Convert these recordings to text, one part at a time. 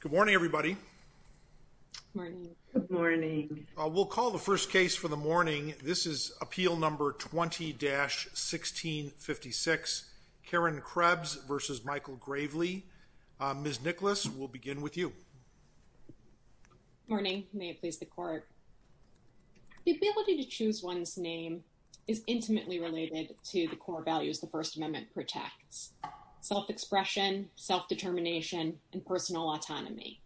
Good morning, everybody. Morning. Good morning. We'll call the first case for the morning. This is appeal number 20 dash 1656. Karen Krebs versus Michael Graveley. Ms. Nicholas, we'll begin with you. Morning, may it please the court. The ability to choose one's name is intimately related to the core values the First Amendment protects self expression, self determination and personal autonomy.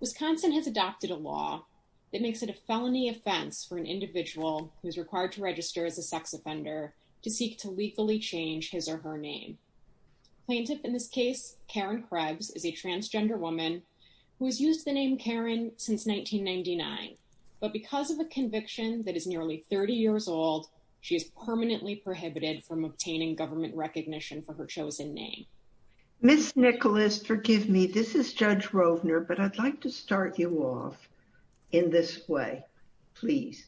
Wisconsin has adopted a law that makes it a felony offense for an individual who's required to register as a sex offender to seek to legally change his or her name. Plaintiff in this case, Karen Krebs is a transgender woman who has used the name Karen since 1999. But because of a conviction that is nearly 30 years old, she is permanently prohibited from obtaining government recognition for her chosen name. Miss Nicholas, forgive me, this is Judge Rovner, but I'd like to start you off in this way, please.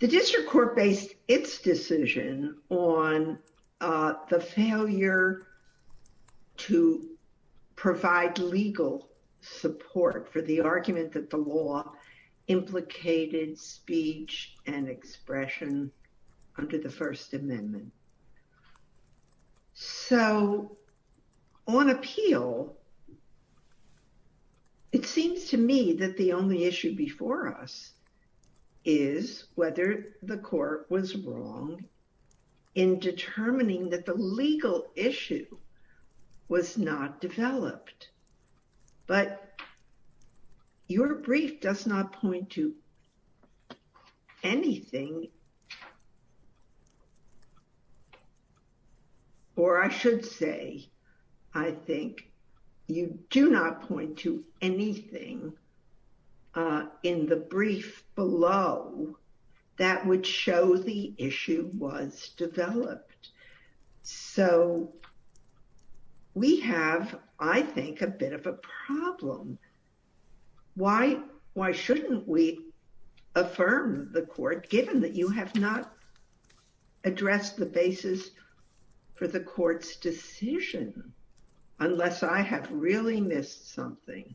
The district court based its decision on the failure to provide legal support for the argument that the law implicated speech and expression under the First Amendment. So on appeal, it seems to me that the only issue before us is whether the court was wrong in determining that the legal issue was not developed. But your brief does not point to anything. Or I should say, I think you do not point to anything in the brief below that would show the issue was developed. So we have, I think, a bit of a problem. Why? Why shouldn't we affirm the court given that you have not addressed the basis for the court's decision? Unless I have really missed something.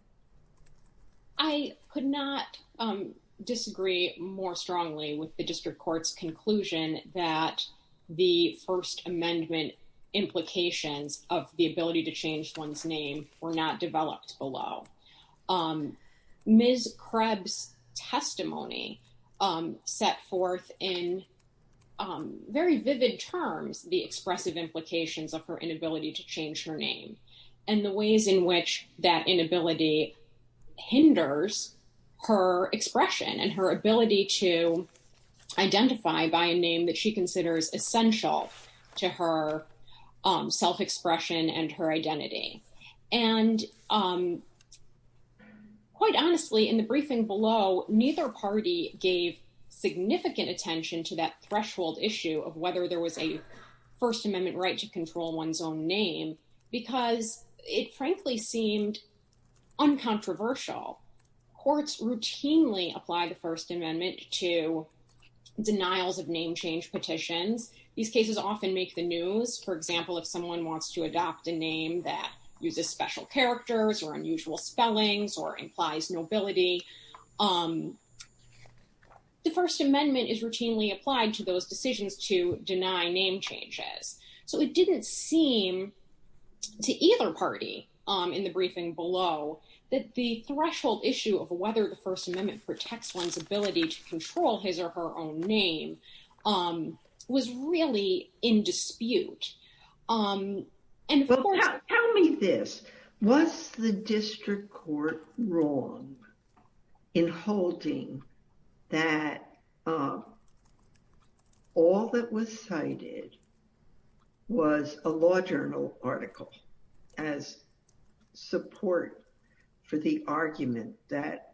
Okay, so I'm going to go ahead and move on to the next item. And that is the court's conclusion that the First Amendment implications of the ability to change one's name were not developed below. Ms. Krebs' testimony set forth in very vivid terms the expressive implications of her inability to by a name that she considers essential to her self-expression and her identity. And quite honestly, in the briefing below, neither party gave significant attention to that threshold issue of whether there was a First Amendment right to control one's own name, because it frankly seemed uncontroversial. Courts routinely apply the First Amendment to denials of name change petitions. These cases often make the news. For example, if someone wants to adopt a name that uses special characters or unusual spellings or implies nobility, the First Amendment is routinely applied to those decisions to deny name changes. So it didn't seem to either party in the briefing below that the threshold issue of whether the First Amendment protects one's ability to control his or her own name was really in dispute. And tell me this, was the district court wrong in holding that all that was cited was a law journal article as support for the argument that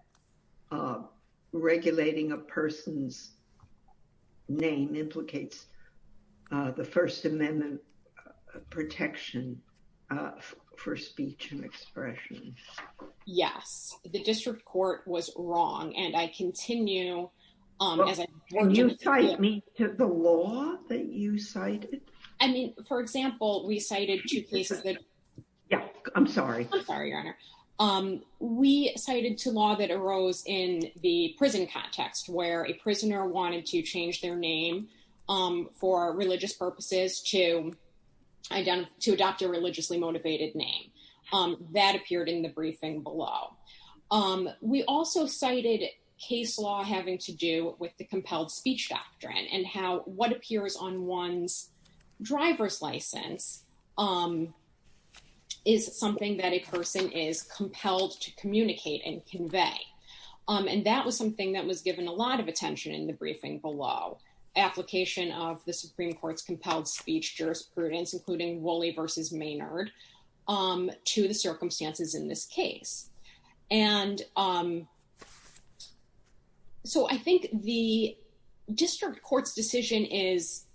regulating a person's name implicates the First Amendment protection for speech and expression? Yes, the district court was wrong. And I continue... Will you cite me to the law that you cited? I mean, for example, we cited two cases that... Yeah, I'm sorry. I'm sorry, Your Honor. We cited two laws that arose in the prison context where a prisoner wanted to change their name for religious purposes to adopt a religiously motivated name. That appeared in the briefing below. We also cited case law having to do with the compelled speech doctrine and how what appears on And that was something that was given a lot of attention in the briefing below. Application of the Supreme Court's compelled speech jurisprudence, including Woolley v. Maynard, to the circumstances in this case. And so I think the district court's decision is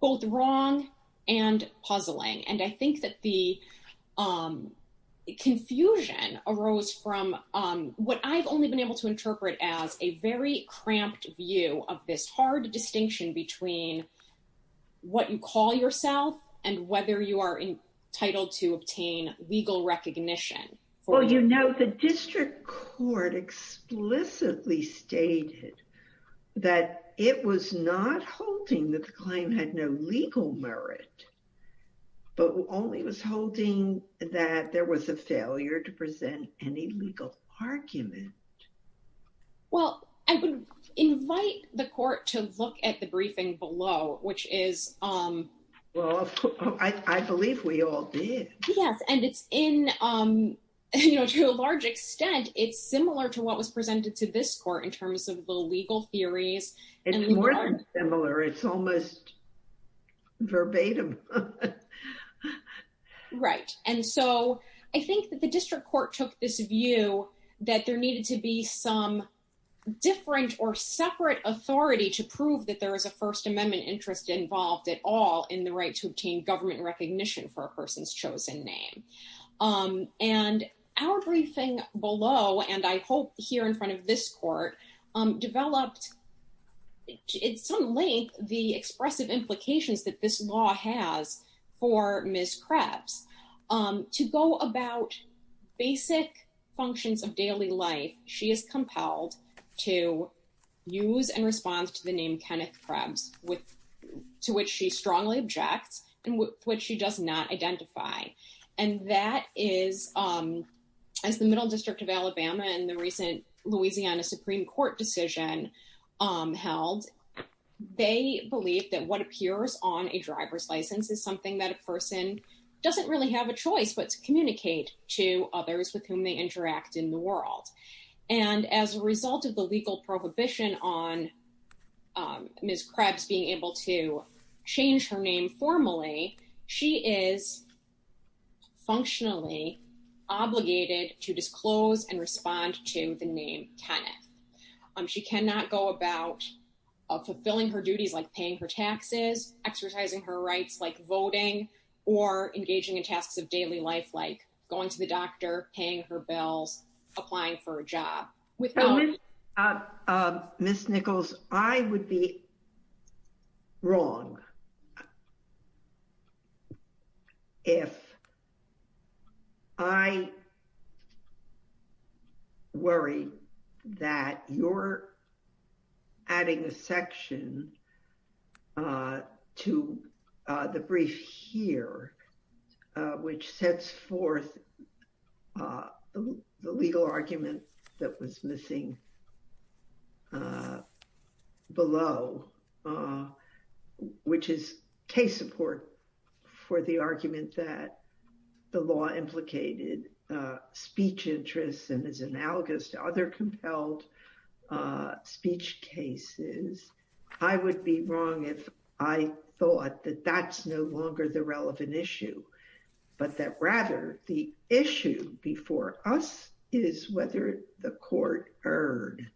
both wrong and puzzling. And I think that the confusion arose from what I've only been able to interpret as a very cramped view of this hard distinction between what you call yourself and whether you are entitled to obtain legal recognition. Well, you know, the district court explicitly stated that it was not holding that the claim had no legal merit, but only was a failure to present any legal argument. Well, I would invite the court to look at the briefing below, which is, um, Well, I believe we all did. Yes. And it's in, um, you know, to a large extent, it's similar to what was presented to this court in terms of the legal theories. It's more than similar. It's almost verbatim. Right. And so I think that the district court took this view that there needed to be some different or separate authority to prove that there is a First Amendment interest involved at all in the right to obtain government recognition for a person's chosen name. Um, and our briefing below, and I hope here in front of this court, um, developed, at some length, the for Ms. Krebs, um, to go about basic functions of daily life, she is compelled to use and respond to the name Kenneth Krebs with, to which she strongly objects and which she does not identify. And that is, um, as the Middle District of Alabama and the recent Louisiana Supreme Court decision, um, held, they believe that what appears on a driver's license is something that a person doesn't really have a choice, but to communicate to others with whom they interact in the world. And as a result of the legal prohibition on, um, Ms. Krebs being able to change her name formally, she is functionally obligated to disclose and respond to the name Kenneth. Um, she cannot go about, uh, fulfilling her duties, like paying for taxes, exercising her rights, like voting or engaging in tasks of daily life, like going to the doctor, paying her bills, applying for a job. Ms. Nichols, I would be wrong if I worry that your adding a section, uh, to, uh, the brief here, uh, which sets forth, uh, the legal argument that was missing, uh, below, uh, which is case support for the argument that the law implicated, uh, speech interests and is analogous to other cases. I would be wrong if I thought that that's no longer the relevant issue, but that rather the issue before us is whether the court erred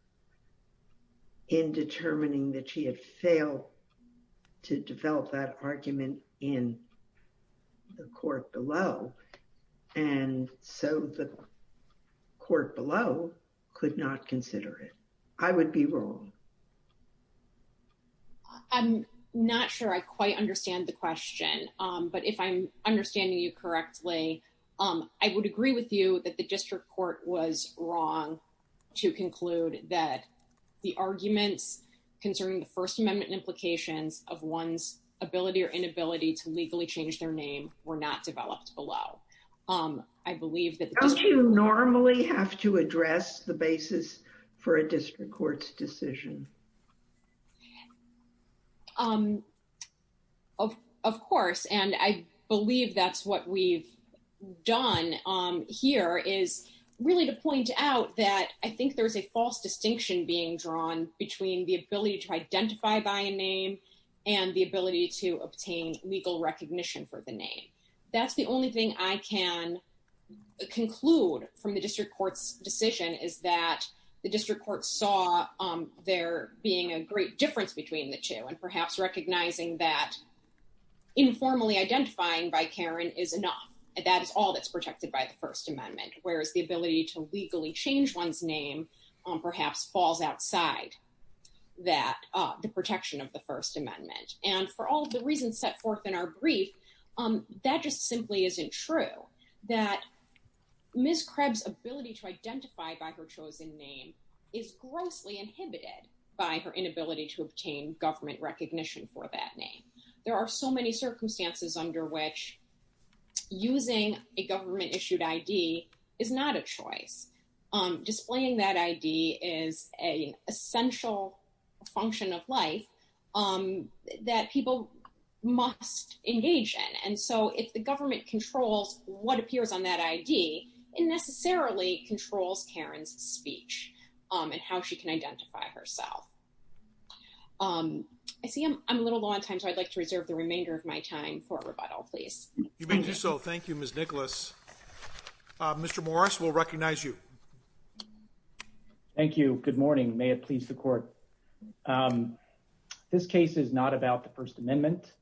in determining that she had failed to develop that argument in the court below. And so the court below could not consider it. I would be wrong. I'm not sure I quite understand the question. Um, but if I'm understanding you correctly, um, I would agree with you that the district court was wrong to conclude that the arguments concerning the first amendment implications of one's ability or inability to legally change their name were not developed below. Um, I believe that normally have to address the basis for a district court's decision. Um, of, of course. And I believe that's what we've done. Um, here is really to point out that I think there's a false distinction being drawn between the ability to identify by a name and the ability to obtain legal recognition for the name. That's the only thing I can conclude from the district court's decision is that the district court saw, um, there being a great difference between the two and perhaps recognizing that informally identifying by Karen is enough. That is all that's protected by the first amendment. Whereas the ability to legally change one's name, um, perhaps falls outside that, uh, the protection of the first amendment. And for all the reasons set forth in our brief, um, that just simply isn't true that Ms. Krebs ability to identify by her chosen name is grossly inhibited by her inability to obtain government recognition for that name. There are so many circumstances under which using a government issued ID is not a choice. Um, displaying that ID is a essential function of life, um, that people must engage in. And so if the government controls what appears on that ID, it necessarily controls Karen's speech, um, and how she can identify herself. Um, I see I'm, I'm a little low on time, so I'd like to reserve the remainder of my time for rebuttal, please. You may do so. Thank you, Ms. Nicholas. Uh, Mr. Morris, we'll recognize you. Thank you. Good morning. May it please the court. Um, this case is not about the first amendment.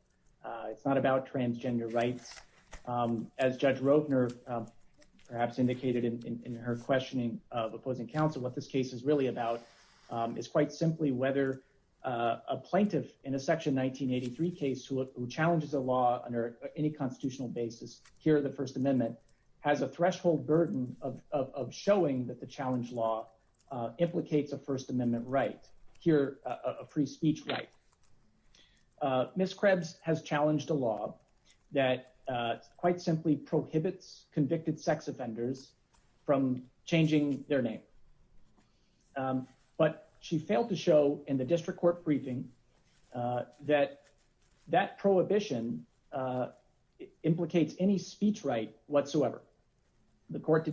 Uh, it's not about transgender rights. Um, as judge Rotner, um, perhaps indicated in her questioning of opposing counsel, what this case is really about, um, is quite simply whether, uh, a plaintiff in a section 1983 case who challenges a law under any constitutional basis here, the first amendment has a threshold burden of, of, of showing that the challenge law, uh, implicates a first amendment right here, a free speech right. Uh, Ms. Krebs has challenged a law that, uh, quite simply prohibits convicted sex offenders from changing their name. Um, but she failed to show in the district court briefing, uh, that that prohibition, uh, implicates any speech right whatsoever. The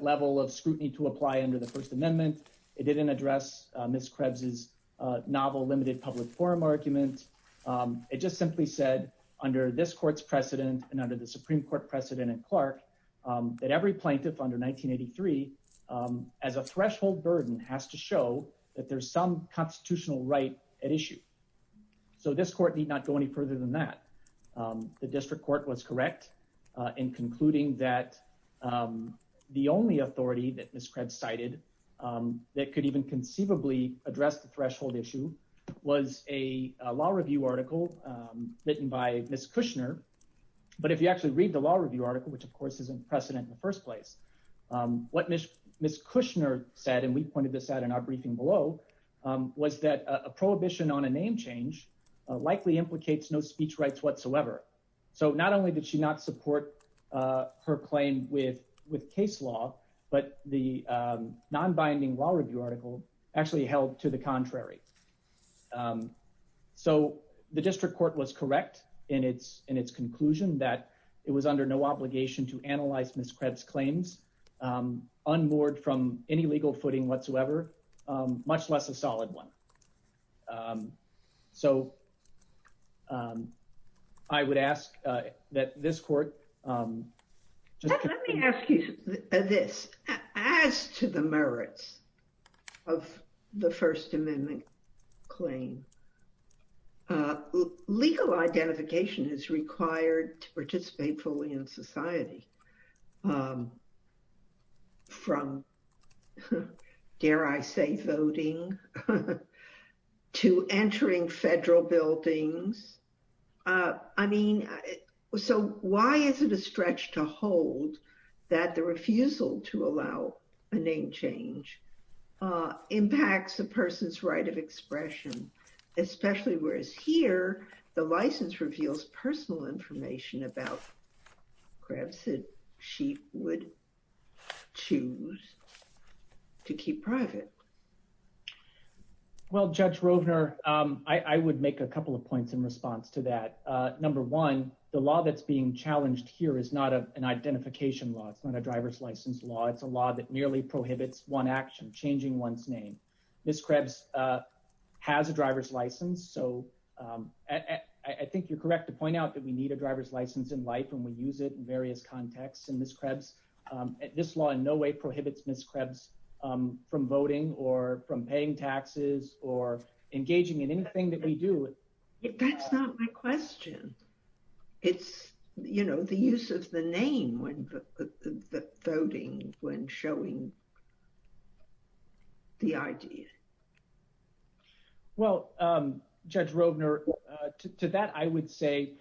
level of scrutiny to apply under the first amendment, it didn't address, uh, Ms. Krebs's, uh, novel limited public forum argument. Um, it just simply said under this court's precedent and under the Supreme court precedent and Clark, um, that every plaintiff under 1983, um, as a threshold burden has to show that there's some constitutional right at issue. So this court need not go any further than that. Um, the authority that Ms. Krebs cited, um, that could even conceivably address the threshold issue was a law review article, um, written by Ms. Kushner. But if you actually read the law review article, which of course is unprecedented in the first place, um, what Ms. Kushner said, and we pointed this out in our briefing below, um, was that a prohibition on a name change, uh, likely implicates no speech rights whatsoever. So not only did she not support, uh, her claim with, with case law, but the, um, non-binding law review article actually held to the contrary. Um, so the district court was correct in its, in its conclusion that it was under no obligation to analyze Ms. Krebs claims, um, on board from any legal footing whatsoever, um, much less a solid one. Um, so, um, I would ask, uh, that this court, um, let me ask you this as to the merits of the first amendment claim, uh, legal identification is required to participate fully in society. Um, from dare I say voting to entering federal buildings. Uh, I mean, so why is it a stretch to hold that the refusal to allow a name change, uh, impacts a person's right of expression, especially whereas here, the license reveals personal information about Krebs that she would choose to keep private. Well, judge Rovner, um, I would make a couple of points in response to that. Uh, number one, the law that's being challenged here is not an identification law. It's not a driver's license law. It's a law that nearly prohibits one action changing one's name. Ms. Krebs, uh, has a driver's license. So, um, I think you're correct to point out that we need a driver's license in life and we use it in various contexts. And Ms. Krebs, um, this law in no way prohibits Ms. Krebs, um, from voting or from paying taxes or engaging in anything that we do. That's not my question. It's, you know, the use of the name when voting, when showing the idea. Well, um, judge Rovner, uh, to, to that, I would say,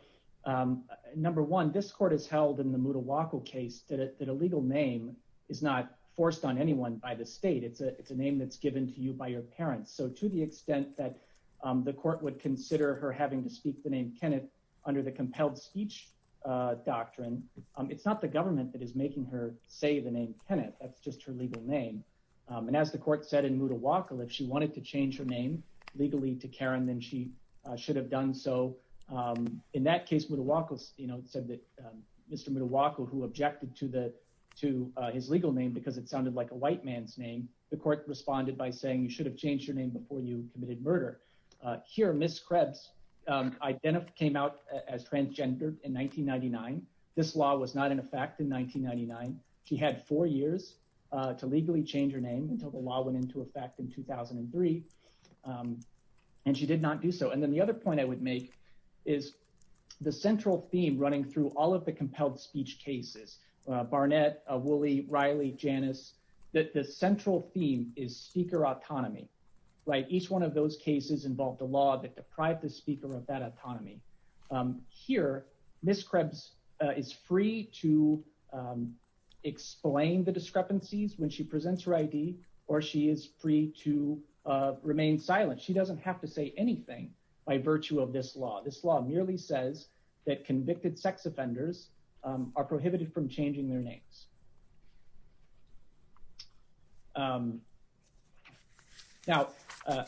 um, number one, this court has held in the Moodle-Wackle case that a legal name is not forced on anyone by the state. It's a, it's a name that's given to you by your parents. So to the extent that, um, the court would consider her having to speak the name Kenneth under the compelled speech, uh, doctrine, um, it's not the government that is making her say the name Kenneth. That's just her legal name. Um, and as the court said in Moodle-Wackle, if she wanted to change her name legally to Karen, then she should have done so. Um, in that case, Moodle-Wackle, you know, it said that, um, Mr. Moodle-Wackle, who objected to the, to, uh, his legal name, because it sounded like a white man's name, the court responded by saying, you should have changed your name before you committed murder. Uh, here, Ms. Krebs, um, identified, came out as transgender in 1999. This law was not in effect in 1999. She had four years, uh, to legally change her name until the law went into effect in 2003. Um, and she did not do so. And then the other point I would make is the central theme running through all of the compelled speech cases, uh, Barnett, uh, Woolley, Riley, Janice, that the central theme is speaker autonomy, right? Each one of those cases involved a law that deprived the speaker of that autonomy. Um, here, Ms. Krebs, uh, is free to, um, explain the content of her speech. Um, she is free to silence her ID or she is free to, uh, remain silent. She doesn't have to say anything by virtue of this law. This law merely says that convicted sex offenders, um, are prohibited from changing their names. Um, now, uh,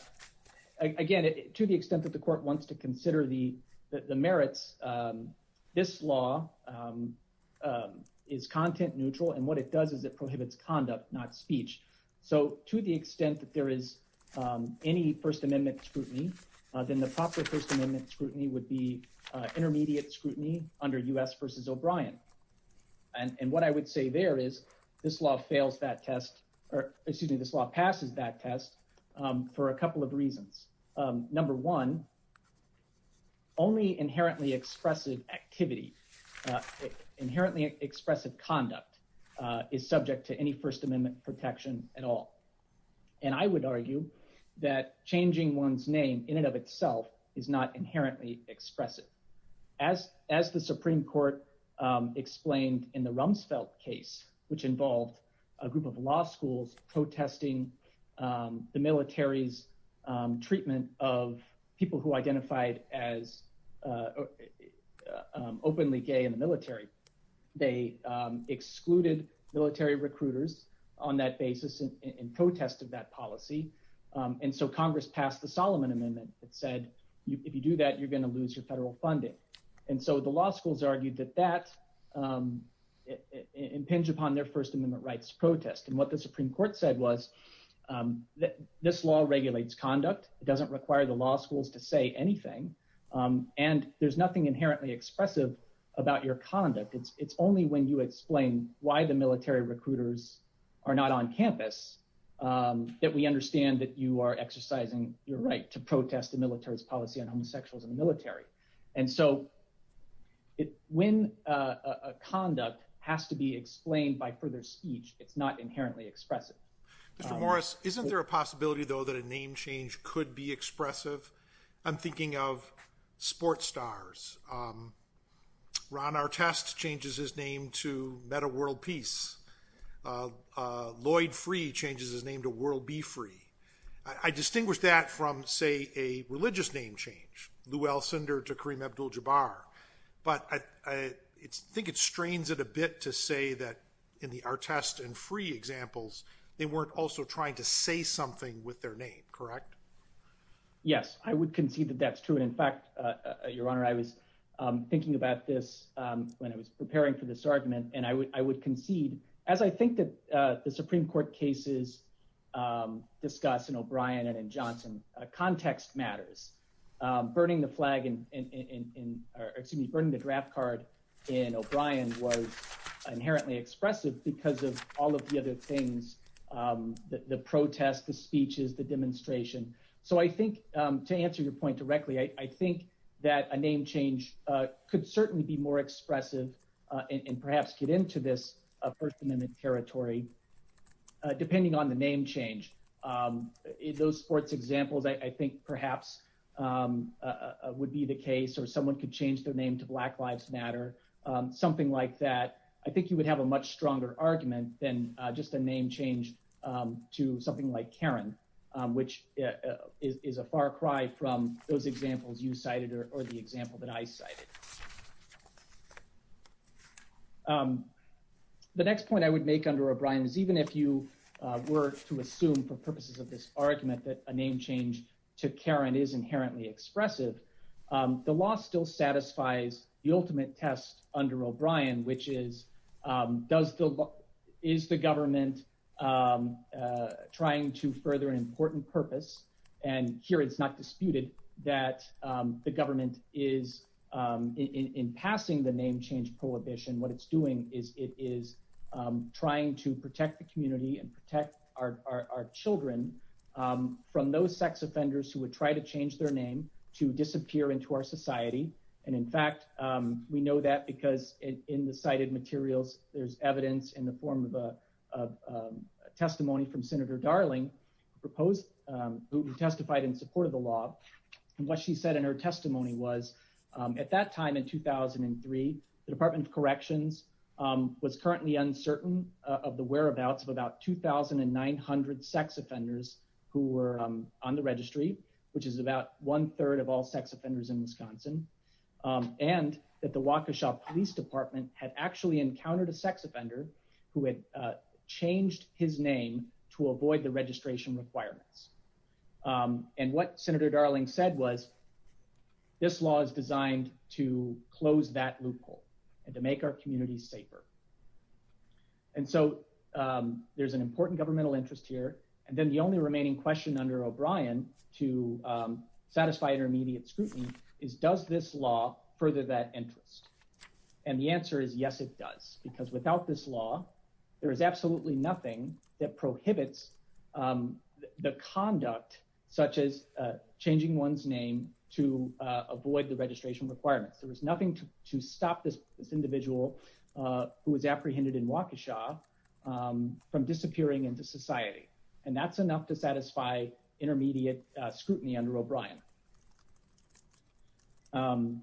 again, to the extent that the court wants to consider the, the merits, um, this law, um, um, is content neutral. And what it does is it prohibits conduct, not speech. So to the extent that there is, um, any first amendment scrutiny, uh, then the proper first amendment scrutiny would be, uh, intermediate scrutiny under us versus O'Brien. And what I would say there is this law fails that test, or excuse me, this law passes that test, um, for a couple of reasons. Um, number one, only inherently expressive activity, inherently expressive conduct, uh, is subject to any first amendment protection at all. And I would argue that changing one's name in and of itself is not inherently expressive as, as the Supreme Court, um, explained in the Rumsfeld case, which involved a group of law schools protesting, um, the military's, um, treatment of people who identified as, uh, uh, um, openly gay in the military. They, um, excluded military recruiters on that basis in protest of that policy. Um, and so Congress passed the Solomon amendment that said, if you do that, you're going to lose your federal funding. And so the law schools argued that that, um, it impinged upon their first amendment rights protest. And what the Supreme Court said was, um, that this law regulates conduct. It doesn't require the law schools to say anything. Um, and there's nothing inherently expressive about your conduct. It's, it's only when you explain why the military recruiters are not on campus, um, that we understand that you are exercising your right to protest the military's policy on homosexuals in the military. And so it, when a conduct has to be explained by further speech, it's not inherently expressive. Mr. Morris, isn't there a possibility though, that a name change could be expressive? I'm thinking of sports stars. Um, Ron Artest changes his name to meta world peace. Uh, uh, Lloyd free changes his name to world be free. I distinguish that from say, a religious name change, Louelle Cinder to Kareem Abdul Jabbar. But I, I think it strains it a bit to say that in the Artest and free examples, they weren't also trying to say something with their name, correct? Yes, I would concede that that's true. And in fact, uh, your honor, I was, um, thinking about this, um, when I was preparing for this argument and I would, I would concede as I think that, uh, the Supreme Court cases, um, discuss in O'Brien and in Johnson, uh, context matters, um, burning the flag in, in, in, in, or excuse me, burning the draft card in O'Brien was inherently expressive because of all of the other things, um, the, the protest, the speeches, the demonstration. So I think, um, to answer your point directly, I think that a name change, uh, could certainly be more expressive, uh, and perhaps get into this, uh, first amendment territory, uh, depending on the name change, um, in those sports examples, I think perhaps, um, uh, would be the case or someone could change their name to black lives matter, um, something like that. I think you would have a much stronger argument than just a name change, um, to something like Karen, um, which is a far cry from those examples you cited or the example that I cited. Um, the next point I would make under O'Brien is even if you, uh, were to assume for purposes of this argument, that a name change to Karen is under O'Brien, which is, um, does still, is the government, um, uh, trying to further an important purpose and here it's not disputed that, um, the government is, um, in, in, in passing the name change prohibition, what it's doing is it is, um, trying to protect the community and protect our, our, our children, um, from those sex offenders who would try to change their name to disappear into our society. And in fact, um, we know that because in the cited materials, there's evidence in the form of a, of, um, a testimony from Senator Darling proposed, um, who testified in support of the law and what she said in her testimony was, um, at that time in 2003, the department of corrections, um, was currently uncertain, uh, of the whereabouts of about 2,900 sex offenders who were, um, on the registry, which is about one million sex offenders in Wisconsin. Um, and that the Waukesha police department had actually encountered a sex offender who had, uh, changed his name to avoid the registration requirements. Um, and what Senator Darling said was this law is designed to close that loophole and to make our communities safer. And so, um, there's an important governmental interest here. And then the only remaining question under O'Brien to, um, satisfy intermediate scrutiny is does this law further that interest? And the answer is yes, it does, because without this law, there is absolutely nothing that prohibits, um, the conduct such as, uh, changing one's name to, uh, avoid the registration requirements. There was nothing to, to stop this, this individual, uh, who was apprehended in Waukesha, um, from disappearing into society. And that's enough to satisfy intermediate scrutiny under O'Brien. Um,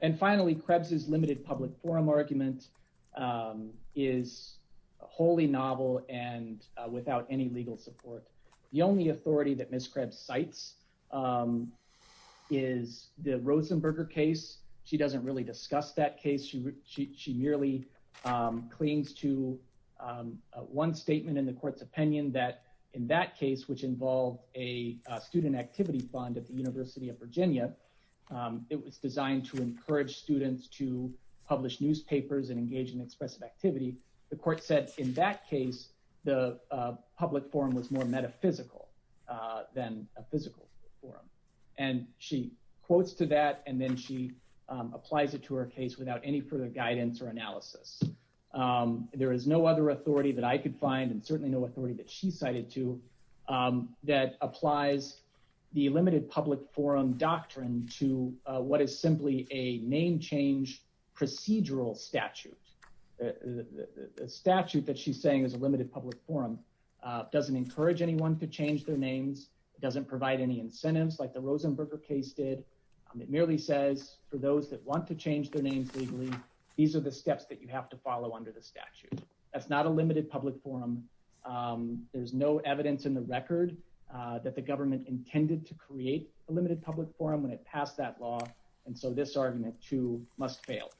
and finally, Krebs' limited public forum argument, um, is wholly novel and, uh, without any legal support. The only authority that Ms. Krebs cites, um, is the Rosenberger case. She doesn't really discuss that case. She, she merely, um, clings to, um, uh, one statement in the court's opinion that in that case, which involved a, uh, student activity fund at the University of Virginia, um, it was designed to encourage students to publish newspapers and engage in expressive activity. The court said in that case, the, uh, public forum was more metaphysical, uh, than a physical forum. And she quotes to that, and then she, um, applies it to her case without any further guidance or analysis. Um, there is no other authority that I could find and certainly no authority that she cited to, um, that applies the limited public forum doctrine to, uh, what is simply a name change procedural statute. The statute that she's saying is a limited public forum, uh, doesn't encourage anyone to change their names. It doesn't provide any incentives like the Rosenberger case did. Um, it merely says for those that want to change their names legally, these are the steps that you have to follow under the statute. That's not a limited public forum. Um, there's no evidence in the record, uh, that the government intended to create a limited public forum when it passed that law. And so this argument too must fail.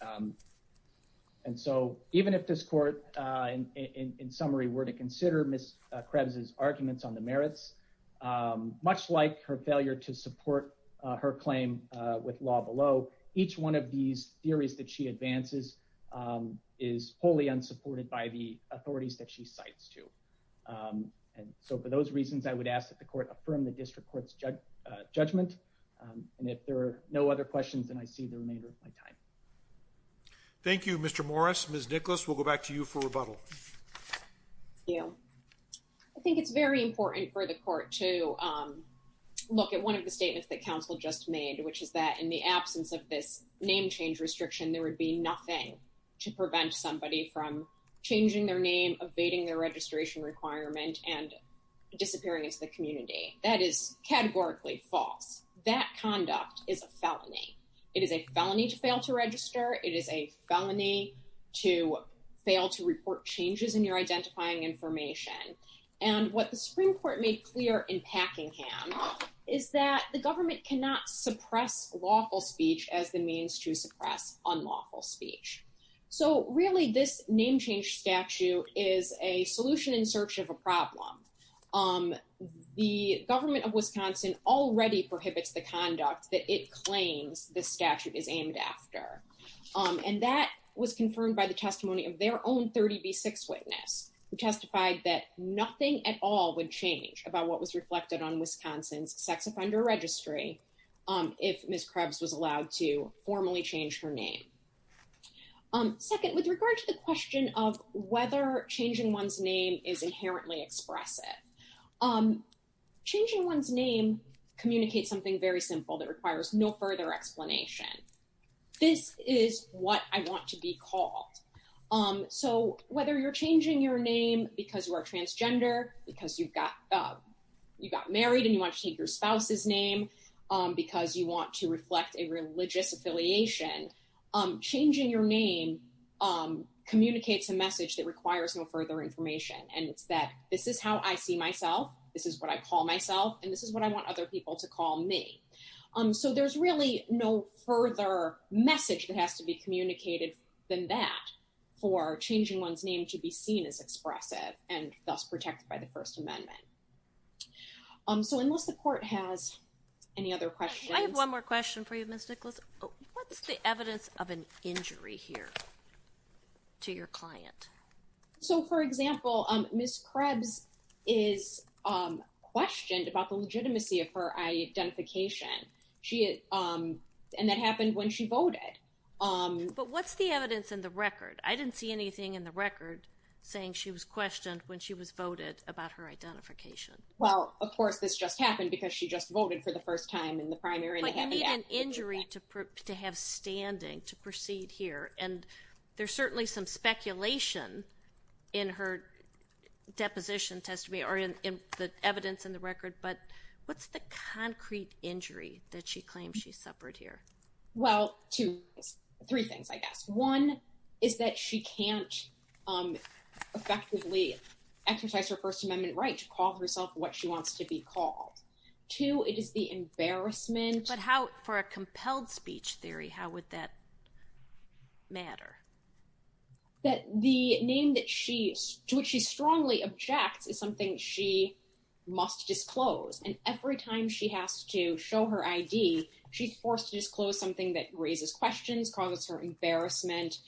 Um, and so even if this court, uh, in, in, in summary were to consider Miss Krebs's arguments on the merits, um, much like her failure to support, uh, her claim, uh, with law below each one of these theories that she advances, um, is wholly unsupported by the authorities that she cites to. Um, and so for those reasons, I would ask that the court affirm the district court's judge, uh, judgment. Um, and if there are no other questions than I see the remainder of my time. Thank you, Mr. Morris. Ms. Nicholas, we'll go back to you for rebuttal. Thank you. I think it's very important for the court to, um, look at one of the statements that counsel just made, which is that in the absence of this name change restriction, there would be nothing to prevent somebody from changing their name, evading their registration requirement and disappearing into the community. That is categorically false. That conduct is a felony. It is a felony to fail to report changes in your identifying information. And what the Supreme Court made clear in Packingham is that the government cannot suppress lawful speech as the means to suppress unlawful speech. So really this name change statute is a solution in search of a problem. Um, the government of Wisconsin already prohibits the conduct that it claims the statute is aimed after. Um, and that was confirmed by the 30B6 witness who testified that nothing at all would change about what was reflected on Wisconsin's sex offender registry. Um, if Ms. Krebs was allowed to formally change her name. Um, second, with regard to the question of whether changing one's name is inherently expressive, um, changing one's name communicates something very simple that requires no further explanation. This is what I want to be called. Um, so whether you're changing your name because you are transgender because you've got, uh, you got married and you want to take your spouse's name, um, because you want to reflect a religious affiliation, um, changing your name, um, communicates a message that requires no further information. And it's that this is how I see myself. This is what I call myself. And this is what I want other people to call me. Um, so there's really no further message that has to be communicated than that for changing one's name to be seen as expressive and thus protected by the First Amendment. Um, so unless the court has any other questions. I have one more question for you, Ms. Nicholas. What's the evidence of an injury here to your client? So for example, um, Ms. Krebs is, um, questioned about the legitimacy of her identification. She, um, and that happened when she voted. Um, but what's the evidence in the record? I didn't see anything in the record saying she was questioned when she was voted about her identification. Well, of course, this just happened because she just voted for the first time in the primary. But you need an injury to have standing to proceed here. And there's certainly some speculation in her deposition testimony or in the evidence in the record. But what's the concrete injury that she suffered here? Well, two, three things, I guess. One is that she can't, um, effectively exercise her First Amendment right to call herself what she wants to be called. Two, it is the embarrassment. But how for a compelled speech theory, how would that matter? That the name that she, to which she strongly objects is something she must disclose. And every she has to show her ID, she's forced to disclose something that raises questions, causes her embarrassment.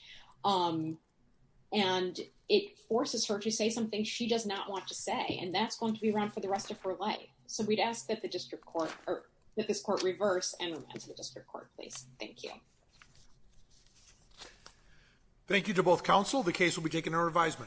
Um, and it forces her to say something she does not want to say. And that's going to be around for the rest of her life. So we'd ask that the district court or that this court reverse and remand to the district court, please. Thank you. Thank you to both counsel. The case will be taken to revisement.